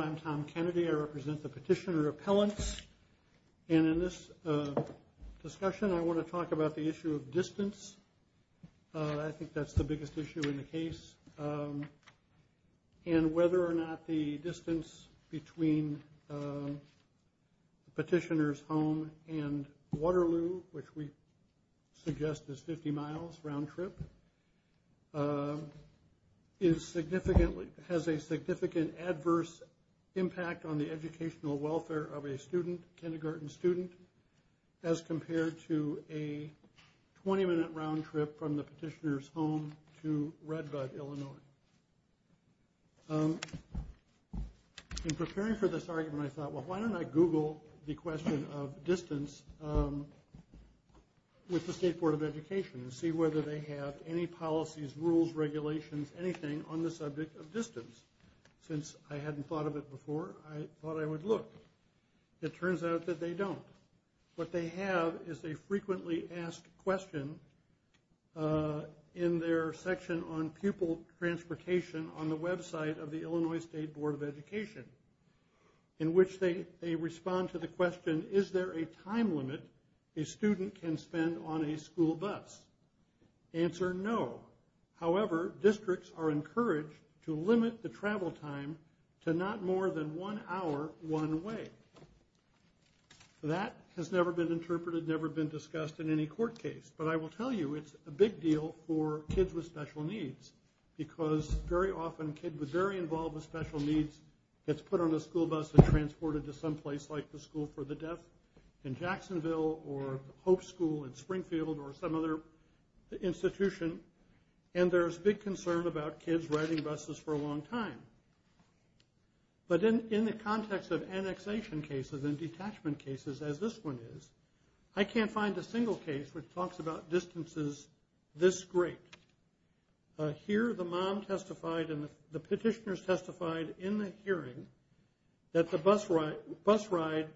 I'm Tom Kennedy. I represent the Petitioner Appellants and in this discussion I want to talk about the issue of distance. I think that's the biggest issue in the case and whether or not the distance between Petitioner's home and Waterloo, which we suggest is 50 miles round trip, has a significant adverse impact on the educational welfare of a student, kindergarten student, as compared to a 20 minute round trip from the Petitioner's home to Redbud, Illinois. In preparing for this argument I thought well why don't I google the question of distance with the State Board of Education and see whether they have any policies, rules, regulations, anything on the subject of distance. Since I hadn't thought of it before I thought I would look. It turns out that they don't. What they have is a frequently asked question in their section on pupil transportation on the website of the Illinois State Board of Education in which they they respond to the question is there a time limit a student can spend on a school bus? Answer no. However districts are encouraged to limit the travel time to not more than one hour one way. That has never been interpreted, never been discussed in any court case but I will tell you it's a big deal for kids with special needs because very often a kid with very involved with special needs gets put on a school bus and transported to some place like the School for the Deaf in Jacksonville or Hope School in Springfield or some other institution and there's big concern about kids riding buses for a long time. But in the context of annexation cases and detachment cases as this one is I can't find a single case which talks about distances this great. Here the mom testified and the petitioners testified in the hearing that the bus ride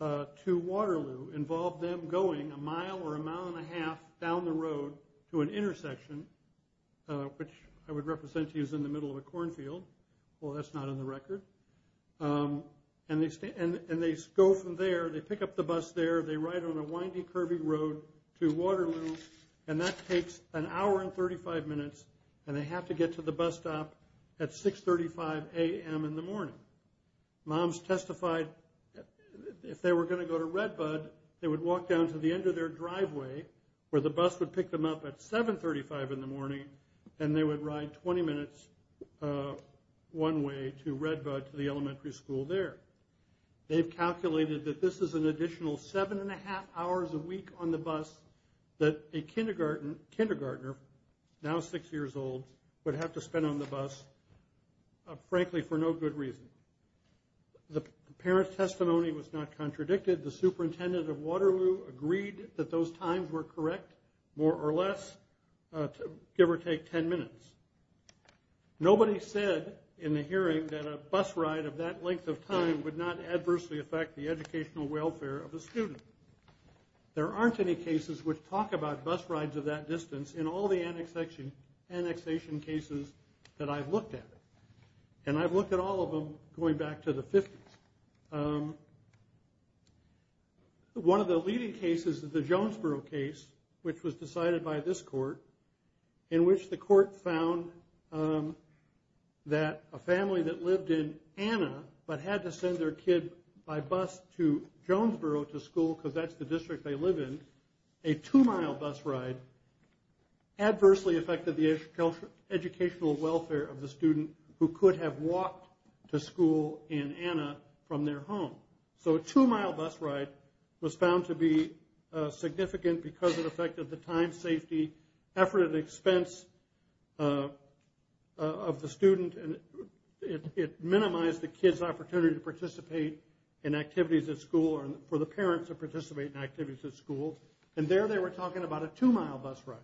to Waterloo involved them going a mile or a mile and a half down the road to an intersection which I would represent to use in the middle of a well that's not on the record and they stay and they go from there they pick up the bus there they ride on a windy curvy road to Waterloo and that takes an hour and 35 minutes and they have to get to the bus stop at 6 35 a.m in the morning. Moms testified if they were going to go to Redbud they would walk down to the end of their driveway where the bus would pick them up at 7 35 in the one way to Redbud to the elementary school there. They've calculated that this is an additional seven and a half hours a week on the bus that a kindergarten kindergartner now six years old would have to spend on the bus frankly for no good reason. The parent's testimony was not contradicted the superintendent of Waterloo agreed that those times were correct more or less give or take 10 minutes. Nobody said in the hearing that a bus ride of that length of time would not adversely affect the educational welfare of a student. There aren't any cases which talk about bus rides of that distance in all the annexation cases that I've looked at and I've looked at all of them going back to the 50s. One of the leading cases is the Jonesboro case which was decided by this court in which the court found that a family that lived in Anna but had to send their kid by bus to Jonesboro to school because that's the district they live in a two-mile bus ride adversely affected the home. So a two-mile bus ride was found to be significant because it affected the time safety effort and expense of the student and it minimized the kid's opportunity to participate in activities at school or for the parents to participate in activities at school and there they were talking about a two-mile bus ride.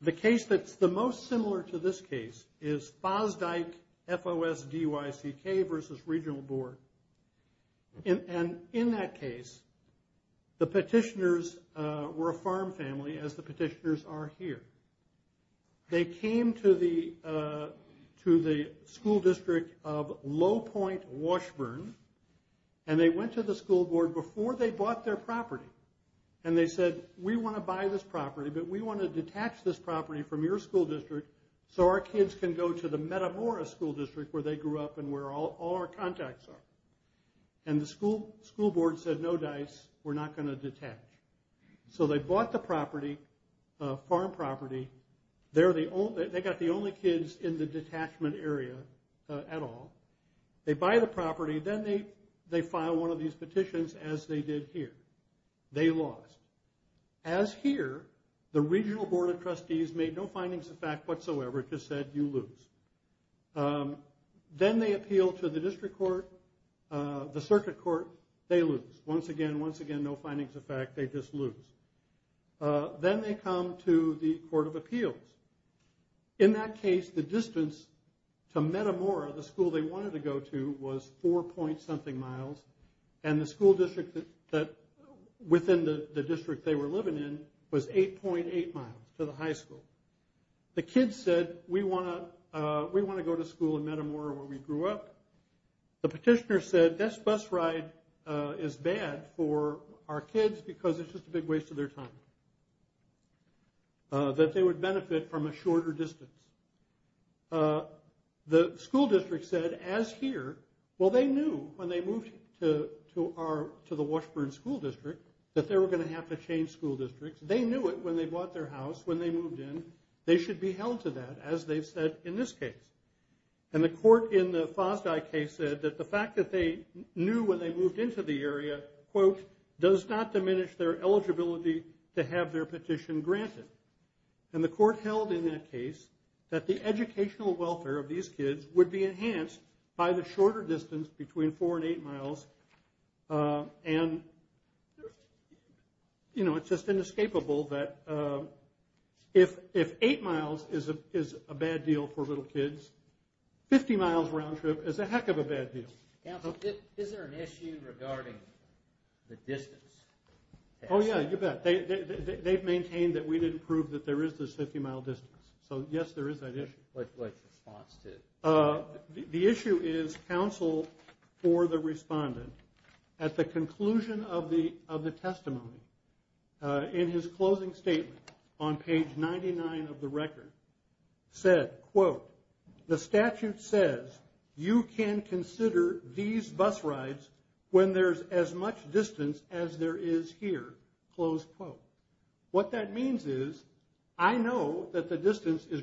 The case that's the most similar to this case is Fosdyke F-O-S-D-Y-C-K versus regional board and in that case the petitioners were a farm family as the petitioners are here. They came to the school district of Low Point Washburn and they went to the school board before they bought their property and they said we want to buy this property but we want to detach this property from your school district so our kids can go to the Metamora school district where they grew up and where all our contacts are and the school school board said no dice we're not going to detach. So they bought the property farm property they're the only they got the only kids in the detachment area at all. They buy the property then they they file one of these petitions as they did here. They lost. As here the regional board of trustees made no findings of fact whatsoever just said you lose. Then they appeal to the district court the circuit court they lose once again once again no findings of fact they just lose. Then they come to the court of appeals. In that case the distance to Metamora the school they wanted to go to was four point something miles and the school district that within the to the high school. The kids said we want to we want to go to school in Metamora where we grew up. The petitioner said this bus ride is bad for our kids because it's just a big waste of their time. That they would benefit from a shorter distance. The school district said as here well they knew when they moved to our to the Washburn school district that they were going to have to change school districts. They knew it when they bought their house when they moved in. They should be held to that as they've said in this case. And the court in the Fosdye case said that the fact that they knew when they moved into the area quote does not diminish their eligibility to have their petition granted. And the court held in that case that the educational welfare of these kids would be enhanced by the shorter distance between four and eight miles. And you know it's just inescapable that if eight miles is a bad deal for little kids, 50 miles round trip is a heck of a bad deal. Is there an issue regarding the distance? Oh yeah you bet. They've maintained that we didn't prove that there is this 50 mile distance. So yes there is that issue. What's the response to it? The issue is counsel for the respondent at the conclusion of the testimony in his closing statement on page 99 of the record said quote the statute says you can consider these bus rides when there's as much distance as there is here close quote. What that is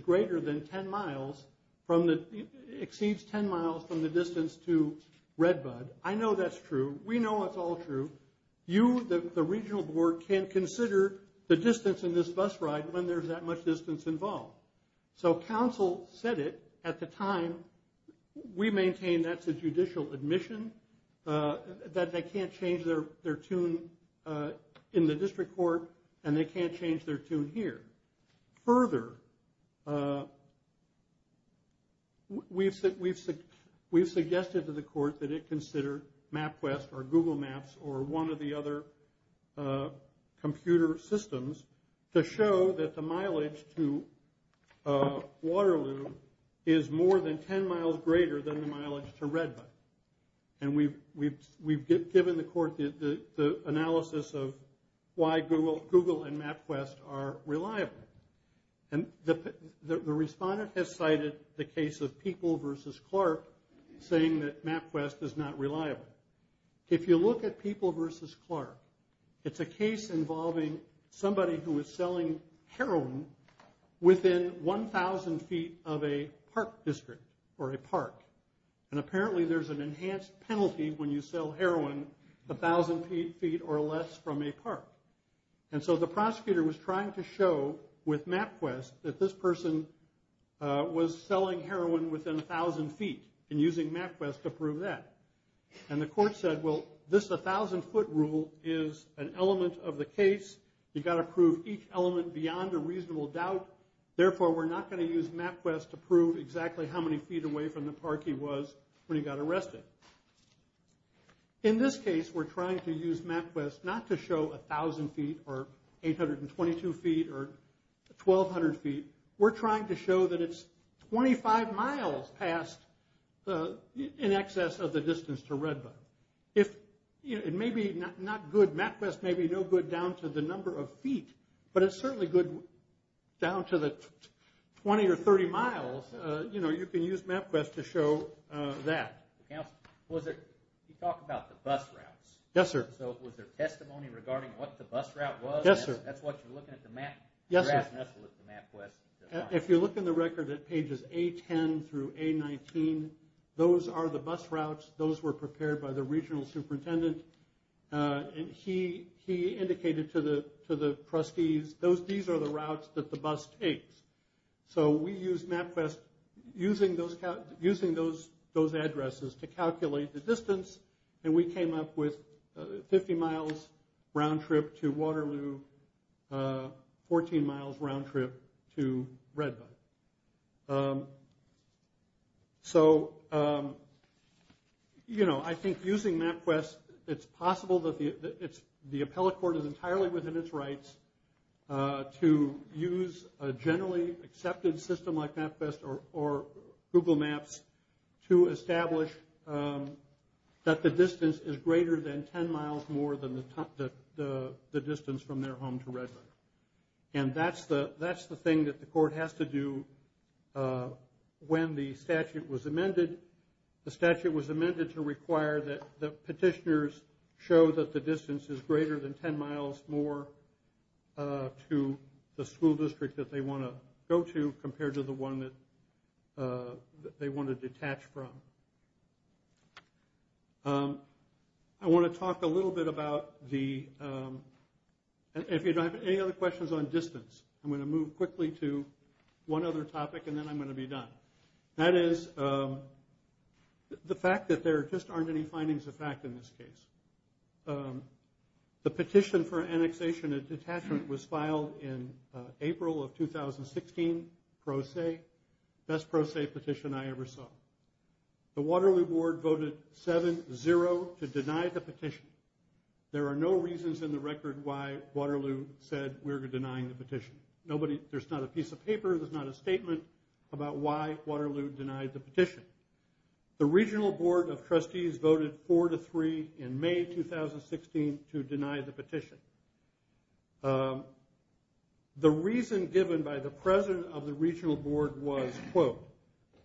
greater than 10 miles from the exceeds 10 miles from the distance to Redbud. I know that's true. We know it's all true. You the regional board can consider the distance in this bus ride when there's that much distance involved. So counsel said it at the time we maintain that's a judicial admission that they can't change their their tune in the district court and they can't change their here. Further we've said we've said we've suggested to the court that it considered MapQuest or Google Maps or one of the other computer systems to show that the mileage to Waterloo is more than 10 miles greater than the mileage to Redbud. And we've given the court the respondent has cited the case of people versus Clark saying that MapQuest is not reliable. If you look at people versus Clark it's a case involving somebody who is selling heroin within 1,000 feet of a park district or a park. And apparently there's an enhanced penalty when you feet or less from a park. And so the prosecutor was trying to show with MapQuest that this person was selling heroin within 1,000 feet and using MapQuest to prove that. And the court said well this 1,000 foot rule is an element of the case. You've got to prove each element beyond a reasonable doubt. Therefore we're not going to use MapQuest to prove exactly how many feet away from the park he was when he got arrested. In this case we're trying to use MapQuest not to show 1,000 feet or 822 feet or 1,200 feet. We're trying to show that it's 25 miles past in excess of the distance to Redbud. If it may be not good, MapQuest may be no good down to the number of feet but it's certainly good down to the 20 or 30 miles. You know you can use MapQuest to show that. You talk about the bus routes. Yes sir. So was there testimony regarding what the bus route was? Yes sir. That's what you're looking at the map? Yes sir. If you look in the record at pages A10 through A19 those are the bus routes. Those were prepared by the regional superintendent and he indicated to the trustees these are the routes that the bus takes. So we used MapQuest using those addresses to calculate the distance and we came up with 50 miles round trip to Waterloo, 14 miles round trip to Redbud. So you know I think using MapQuest it's possible that the appellate court is entirely within its rights to use a generally accepted system like MapQuest or Google Maps to establish that the distance is greater than 10 miles more than the distance from their home to Redbud. And that's the thing that the court has to do when the statute was amended. The statute was amended to require that the petitioners show that the distance is greater than 10 miles more to the school district that they want to go to compared to the one that they want to detach from. I want to talk a little bit about the, if you have any other questions on distance I'm going to move quickly to one other topic and then I'm going to be done. That is the fact that there just aren't any findings of fact in this case. The petition for annexation and detachment was filed in April of 2016. Pro se, best pro se petition I ever saw. The Waterloo board voted 7-0 to deny the petition. There are no reasons in the record why Waterloo said we're denying the petition. Nobody, there's not a piece of paper, there's not a statement about why Waterloo denied the petition. The regional board of trustees voted 4-3 in May 2016 to deny the petition. The reason given by the president of the regional board was, quote,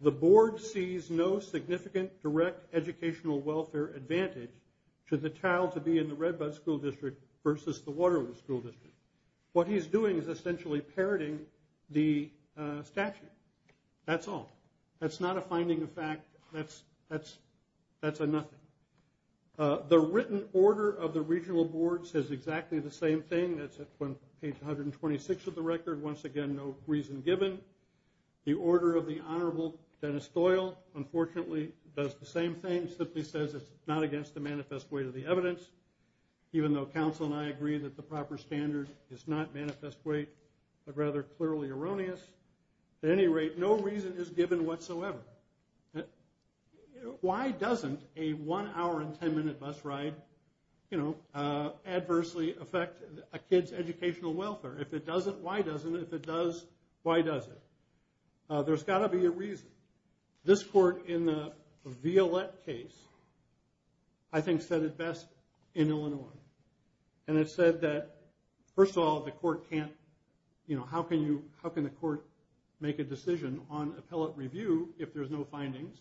the board sees no significant direct educational welfare advantage to the child to be in the Redbud school district versus the Waterloo school district. What he's doing is essentially parroting the statute. That's all. That's not a finding of fact. That's a nothing. The written order of the regional board says exactly the same thing. That's on page 126 of the record. Once again, no reason given. The order of the Honorable Dennis Doyle, unfortunately, does the same thing. Simply says it's not against the manifest weight of the evidence, even though counsel and I agree that the proper standard is not manifest weight, but rather clearly erroneous. At any rate, no reason is given whatsoever. Why doesn't a one-hour and 10-minute bus ride adversely affect a kid's educational welfare? If it doesn't, why doesn't? If it does, why does it? There's got to be a reason. This court in the Violette case, I think, said it best in Illinois. It said that, first of all, the court can't... How can the court make a decision on appellate review if there's no findings?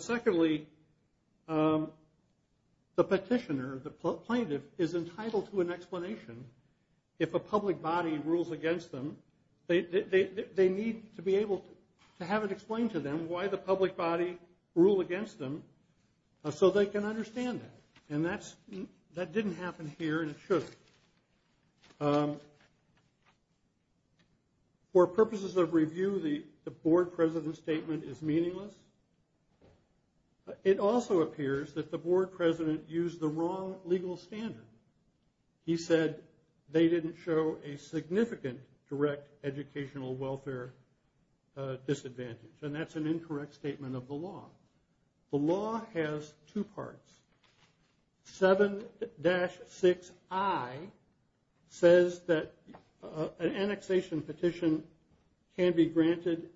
Secondly, the petitioner, the plaintiff, is entitled to an explanation if a public body rules against them. They need to be able to have it explained to them why the public body ruled against them so they can understand that. That didn't happen here, and it shouldn't. For purposes of review, the board president's statement is meaningless. It also appears that the board president used the wrong legal standard. He said they didn't show a significant direct educational welfare disadvantage, and that's an incorrect statement of the law. The law has two parts. 7-6I says that an annexation petition can be granted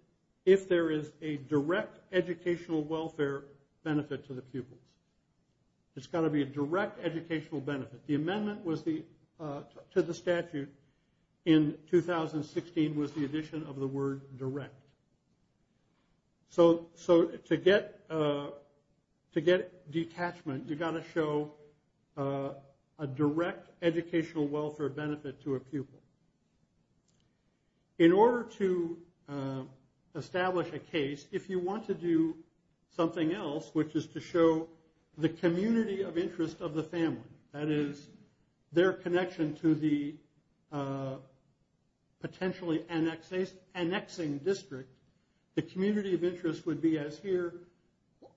if there is a direct educational welfare benefit to the pupils. It's got to be a direct educational benefit. The amendment to the statute in 2016 was the addition of the word direct. To get detachment, you've got to show a direct educational welfare benefit to a pupil. In order to establish a case, if you want to do something else, which is to show the community of interest of the family, that is, their connection to the potentially annexing district, the community of interest would be as here.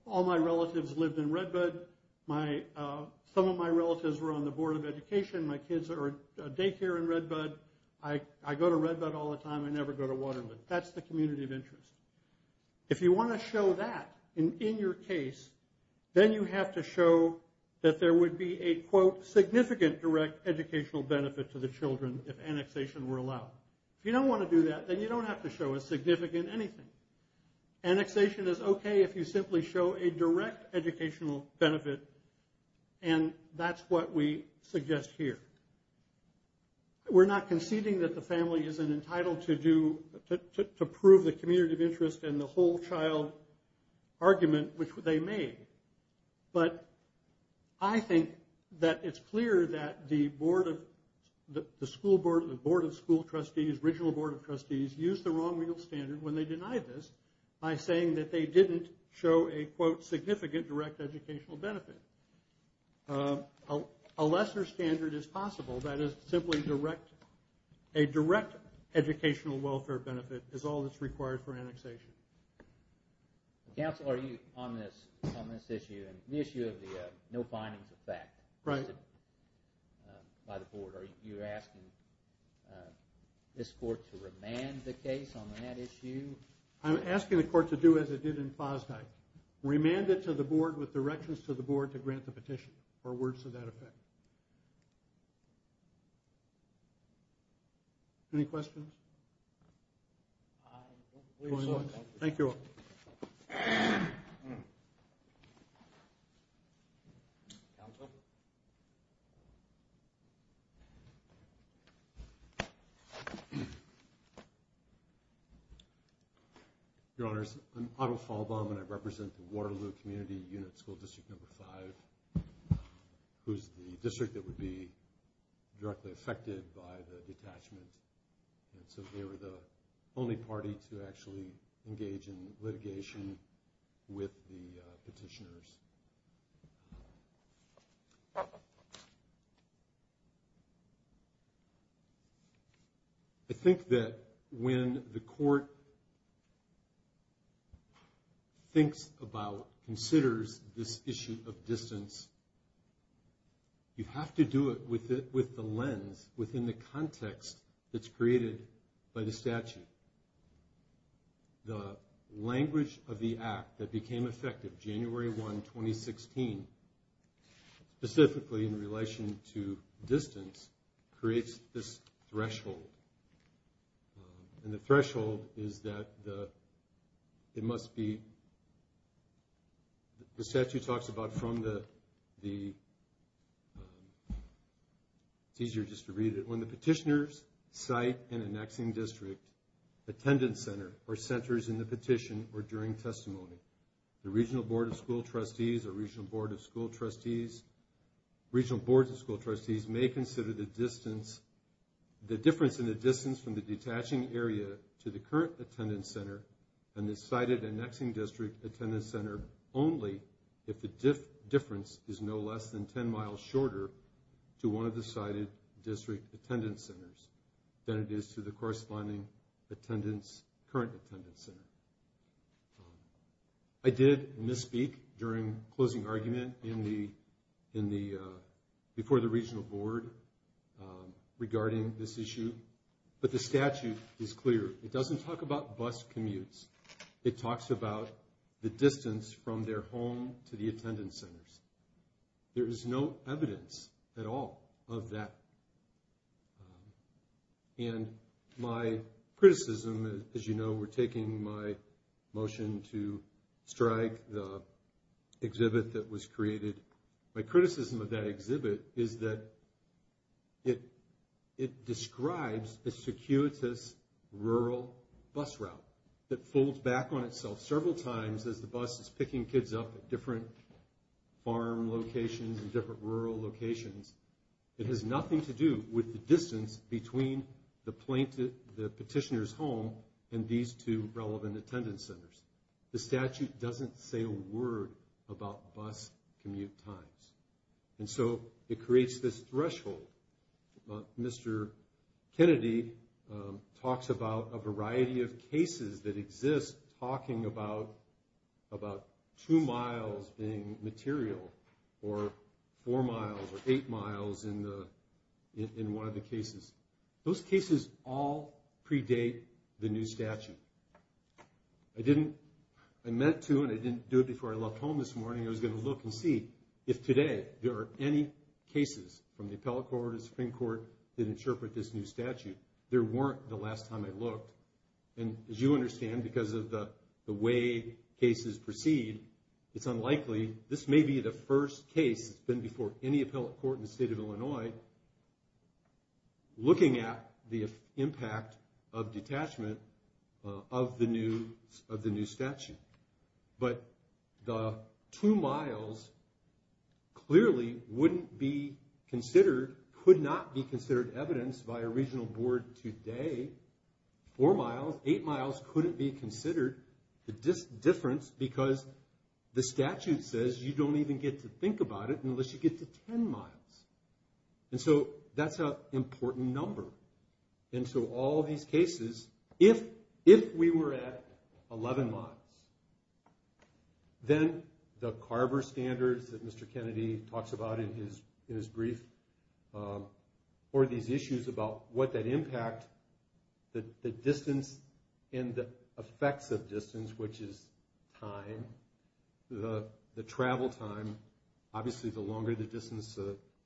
All my relatives lived in Redbud. Some of my relatives were on the Board of Education. My kids are in daycare in Redbud. I go to Redbud all the time. I never go to Waterloo. That's the community of interest. If you want to show that in your case, then you have to show that there would be a, quote, significant direct educational benefit to the children if annexation were allowed. If you don't want to do that, then you don't have to show a significant anything. Annexation is okay if you simply show a direct educational benefit, and that's what we suggest here. We're not conceding that the family isn't entitled to prove the community of interest and the whole child argument which they made, but I think that it's clear that the Board of School Trustees, Regional Board of Trustees, used the wrong real standard when they denied this by saying that they didn't show a, quote, significant direct educational benefit. A lesser standard is possible, that is, simply a direct educational welfare benefit is all that's required for annexation. Council, are you on this on this issue and the issue of the no findings effect by the Board? Are you asking this Court to remand the case on that issue? I'm asking the Court to do as it did in Fosdyke. Remand it to the Board with directions to the Board to grant the petition or words to that effect. Any questions? Thank you all. Your Honors, I'm Otto Falbaum and I represent the Waterloo Community Unit School District No. 5, who's the district that would be directly affected by the detachment, and so they were the with the petitioners. I think that when the Court thinks about, considers this issue of distance, you have to do it with the lens, within the context that's created by the statute. The language of the Act that became effective January 1, 2016, specifically in relation to distance, creates this threshold. And the threshold is that it must be, the statute talks about from the, it's easier just to read it, when the petitioners cite an annexing district attendance center or centers in the petition or during testimony. The Regional Board of School Trustees or Regional Board of School Trustees, Regional Board of School Trustees may consider the distance, the difference in the distance from the detaching area to the current attendance center and the cited annexing district attendance center only if the difference is no less than 10 miles shorter to one of the cited district attendance centers than it is to the corresponding attendance, current attendance center. I did misspeak during closing argument in the, before the Regional Board regarding this issue, but the statute is clear. It doesn't talk about bus commutes, it talks about the distance from their home to the attendance centers. There is no evidence at all of that. And my criticism, as you know, we're taking my motion to strike the exhibit that was created. My criticism of that exhibit is that it describes the circuitous rural bus route that folds back on itself several times as the bus is picking kids up at different farm locations and different rural locations. It has nothing to do with the distance between the petitioner's home and these two relevant attendance centers. The statute doesn't say a word about bus commute times. And so it creates this threshold. Mr. Kennedy talks about a variety of cases that exist talking about about two miles being material or four miles or eight miles in the in one of the cases. Those cases all predate the new statute. I didn't, I meant to and I didn't do it before I left home this morning. I was going to look and see if today there are any cases from the appellate court, the Supreme Court that interpret this new statute. There weren't the last time I looked. And as you understand, because of the way cases proceed, it's unlikely. This may be the first case that's been before any appellate court in the state of Illinois looking at the impact of detachment of the new statute. But the two miles clearly wouldn't be considered, could not be considered evidence by a regional board today. Four miles, eight miles couldn't be considered the difference because the statute says you don't even get to think about it unless you get to 10 miles. And so that's an important number. And so all these cases, if we were at or these issues about what that impact, the distance and the effects of distance, which is time, the travel time, obviously the longer the distance,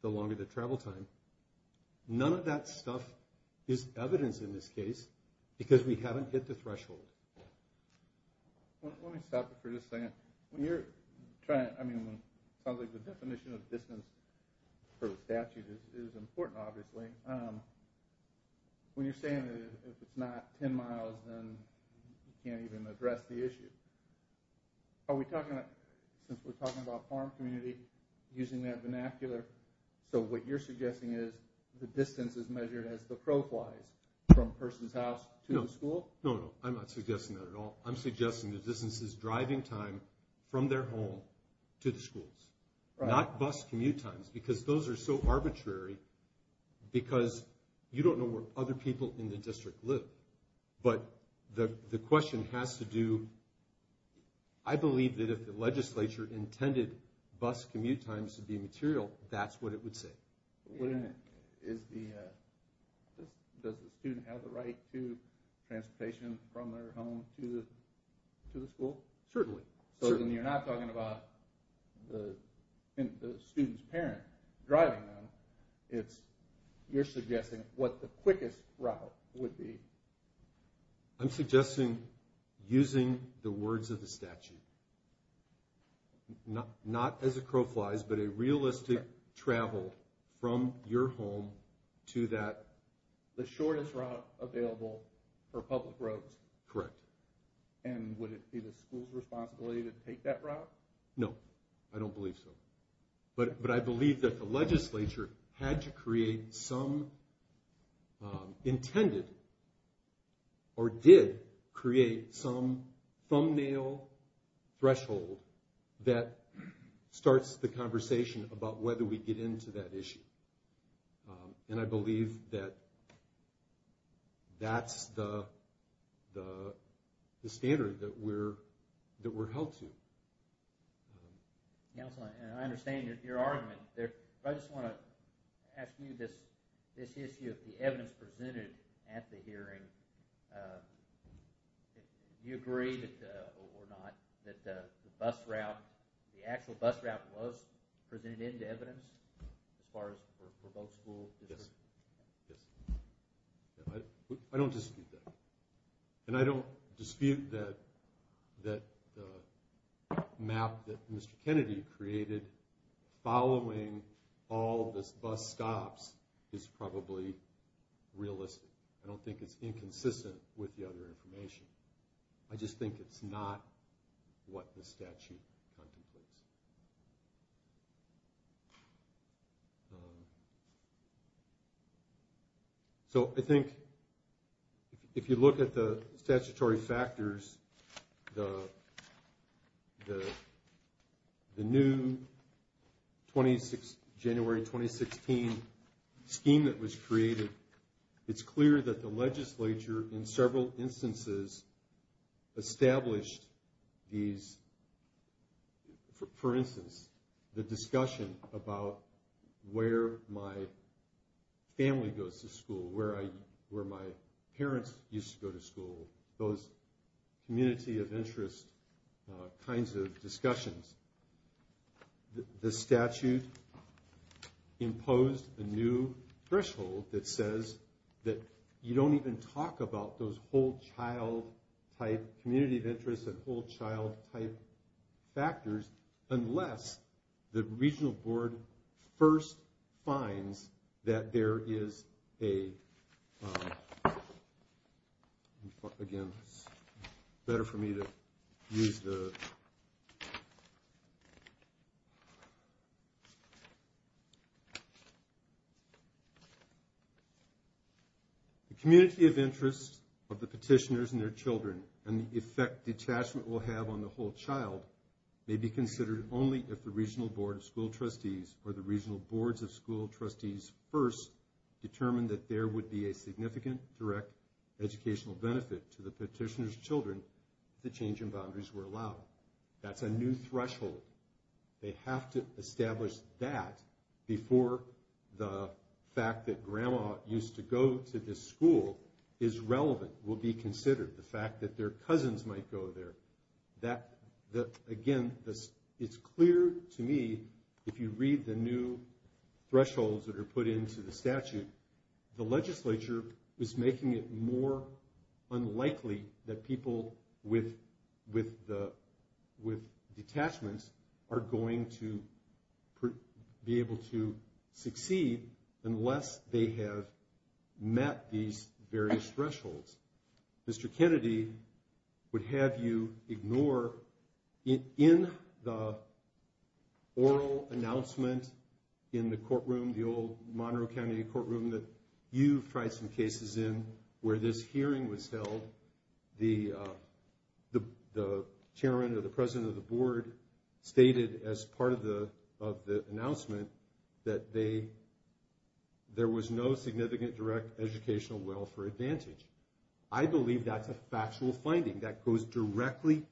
the longer the travel time, none of that stuff is evidence in this case because we haven't hit the threshold. Let me stop it for just a second. When you're trying, I mean, probably the definition of distance for the statute is important, obviously. When you're saying that if it's not 10 miles, then you can't even address the issue. Are we talking about, since we're talking about farm community, using that vernacular, so what you're suggesting is the distance is measured as the pro flies from a person's house to the school? No, no, I'm not suggesting that at all. I'm because those are so arbitrary because you don't know where other people in the district live. But the question has to do, I believe that if the legislature intended bus commute times to be material, that's what it would say. Does the student have the right to transportation from their home to the school? Certainly. So then you're not talking about in the student's parent driving them. It's you're suggesting what the quickest route would be. I'm suggesting using the words of the statute. Not as a crow flies, but a realistic travel from your home to that. The shortest route available for public roads. Correct. And would it be the school's take that route? No, I don't believe so. But I believe that the legislature had to create some intended or did create some thumbnail threshold that starts the conversation about whether we held to. Counselor, I understand your argument. I just want to ask you this issue of the evidence presented at the hearing. Do you agree or not that the bus route, the actual bus route was presented into evidence as far as for both schools? Yes, yes. I don't dispute that. And I don't dispute that that map that Mr. Kennedy created following all this bus stops is probably realistic. I don't think it's inconsistent with the other information. I just think it's not what the statute contemplates. So I think if you look at the statutory factors, the new January 2016 scheme that was created, it's clear that the legislature in several instances established these for instance, the discussion about where my family goes to school, where my parents used to go to school, those community of interest kinds of discussions. The statute imposed a new threshold that says that you don't even talk about those whole child type, community of interest and whole child type factors unless the regional board first finds that there is a, again, it's better for me to use the, the community of interest of the petitioners and their children and the effect detachment will have on the whole child may be considered only if the regional board of school trustees or the regional boards of school trustees first determine that there would be a significant direct educational benefit to the petitioner's children if the change in boundaries were allowed. That's a new threshold. They have to establish that before the fact that grandma used to go to this school is relevant, will be considered, the fact that their cousins might go there. That, again, it's clear to me, if you read the new thresholds that are put into the statute, the legislature is making it more unlikely that people with detachments are going to be able to succeed unless they have met these various thresholds. Mr. Kennedy would have you ignore, in the oral announcement in the courtroom, the old Monroe County courtroom that you've tried some cases in where this hearing was held, the chairman or the president of the board stated as part of the announcement that they, there was no significant direct educational welfare advantage. I believe that's a factual finding that goes directly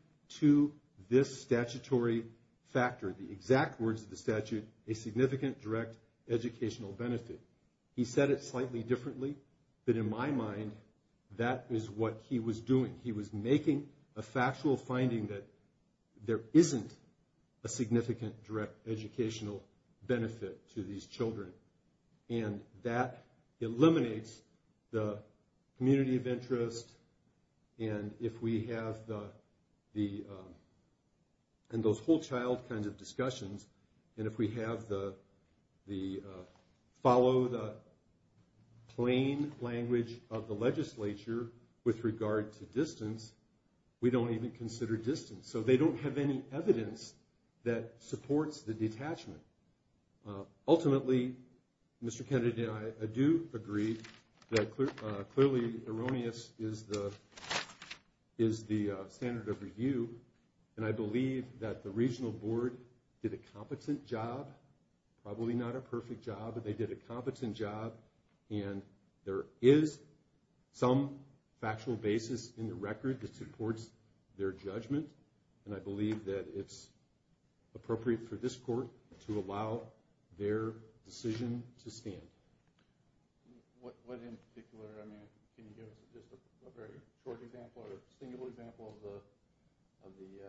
to this statutory factor, the exact words of the statute, a significant direct educational benefit. He said it slightly differently, but in my mind, that is what he was doing. He was making a factual finding that there isn't a significant direct educational benefit to these children. And that eliminates the community of interest and if we have the, and those whole child kind of discussions, and if we have the, follow the plain language of the legislature with regard to distance, we don't even consider distance, so they don't have any evidence that supports the detachment. Ultimately, Mr. Kennedy and I do agree that clearly erroneous is the standard of review and I believe that the regional board did a competent job, probably not a perfect job, but they did a competent job and there is some factual basis in the record that supports their judgment. And I believe that it's appropriate for this court to allow their decision to stand. What in particular, I mean, can you give us a very short example or a single example of the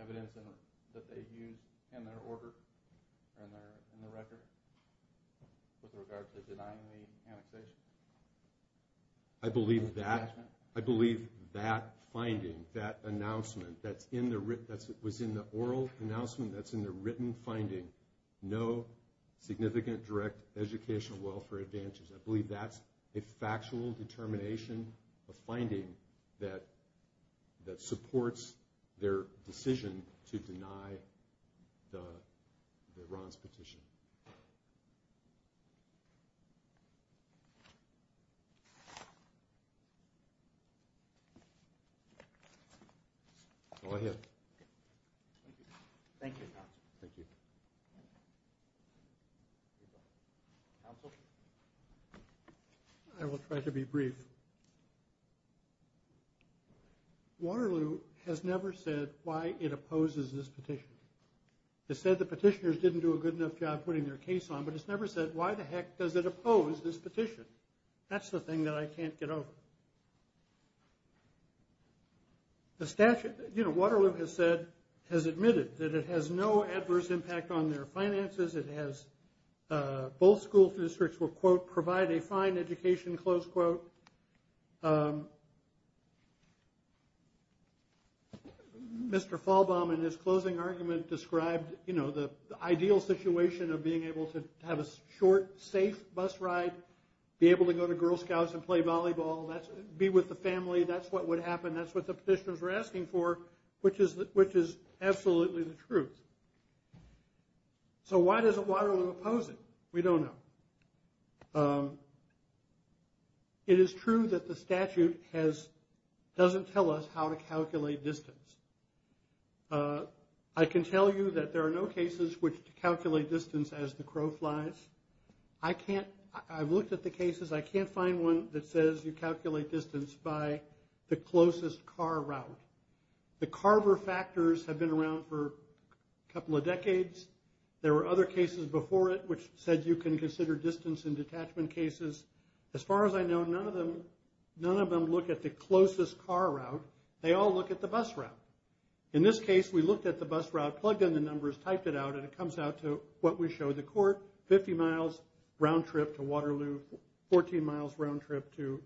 evidence that they used in their order, in their record, with regard to denying the annexation? I believe that, I believe that finding, that announcement that's in the, that was in the oral announcement, that's in the written finding, no significant direct educational welfare advantages. I believe that's a factual determination, a finding that supports their decision to deny the Ron's petition. Go ahead. Thank you, counsel. Thank you. Counsel? I will try to be brief. Waterloo has never said why it opposes this petition. It said the petitioners didn't do a good enough job putting their case on, but it's never said why the heck does it oppose this petition? That's the thing that I can't get over. The statute, you know, Waterloo has said, has admitted that it has no adverse impact on their finances. It has, both school districts will quote, provide a fine education, close quote. Mr. Falbaum, in his closing argument, described, you know, the ideal situation of being able to have a short, safe bus ride, be able to go to Girl Scouts and play volleyball, be with the family, that's what would happen, that's what the petitioners were asking for, which is absolutely the truth. So why does Waterloo oppose it? We don't know. It is true that the statute has, doesn't tell us how to calculate distance. I can tell you that there are no cases which calculate distance as the crow flies. I can't, I've looked at the cases, I can't find one that says you calculate distance by the closest car route. The Carver factors have been around for a couple of decades. There were other cases before it which said you can consider distance in detachment cases. As far as I know, none of them, none of them look at the closest car route. They all look at the bus route. In this case, we looked at the bus route, plugged in the numbers, typed it out, and it comes out to what we show the court, 50 miles round trip to Waterloo, 14 miles round trip to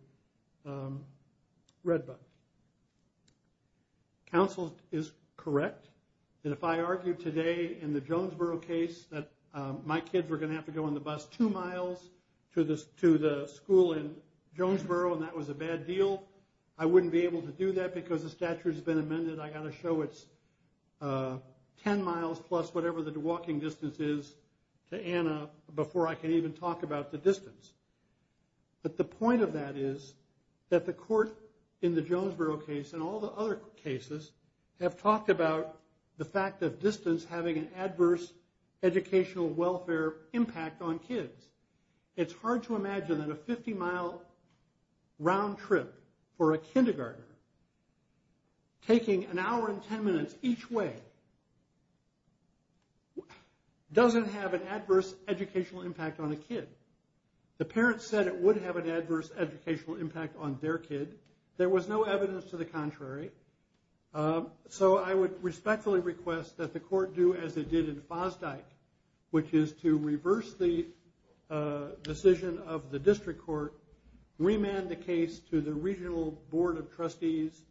Redbud. Counsel is correct that if I argued today in the Jonesboro case that my kids were going to have to go on the bus two miles to the school in Jonesboro and that was a bad deal, I wouldn't be able to do that because the statute has been amended, I've got to show it's 10 miles plus whatever the walking distance is to Anna before I can even talk about the distance. But the point of that is that the court in the Jonesboro case and all the other cases have talked about the fact of distance having an adverse educational welfare impact on kids. It's hard to imagine that a 50 mile round trip for a kindergartner taking an hour and 10 minutes each way doesn't have an adverse educational impact on a kid. The parents said it would have an adverse educational impact on their kid. There was no evidence to the contrary. So I would respectfully request that the court do as it did in Fosdyke, which is to reverse the decision of the district court, remand the case to the regional board of trustees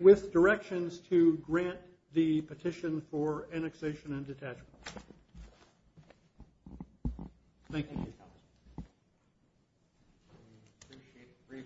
with directions to grant the petition for annexation and detachment. Thank you, counsel.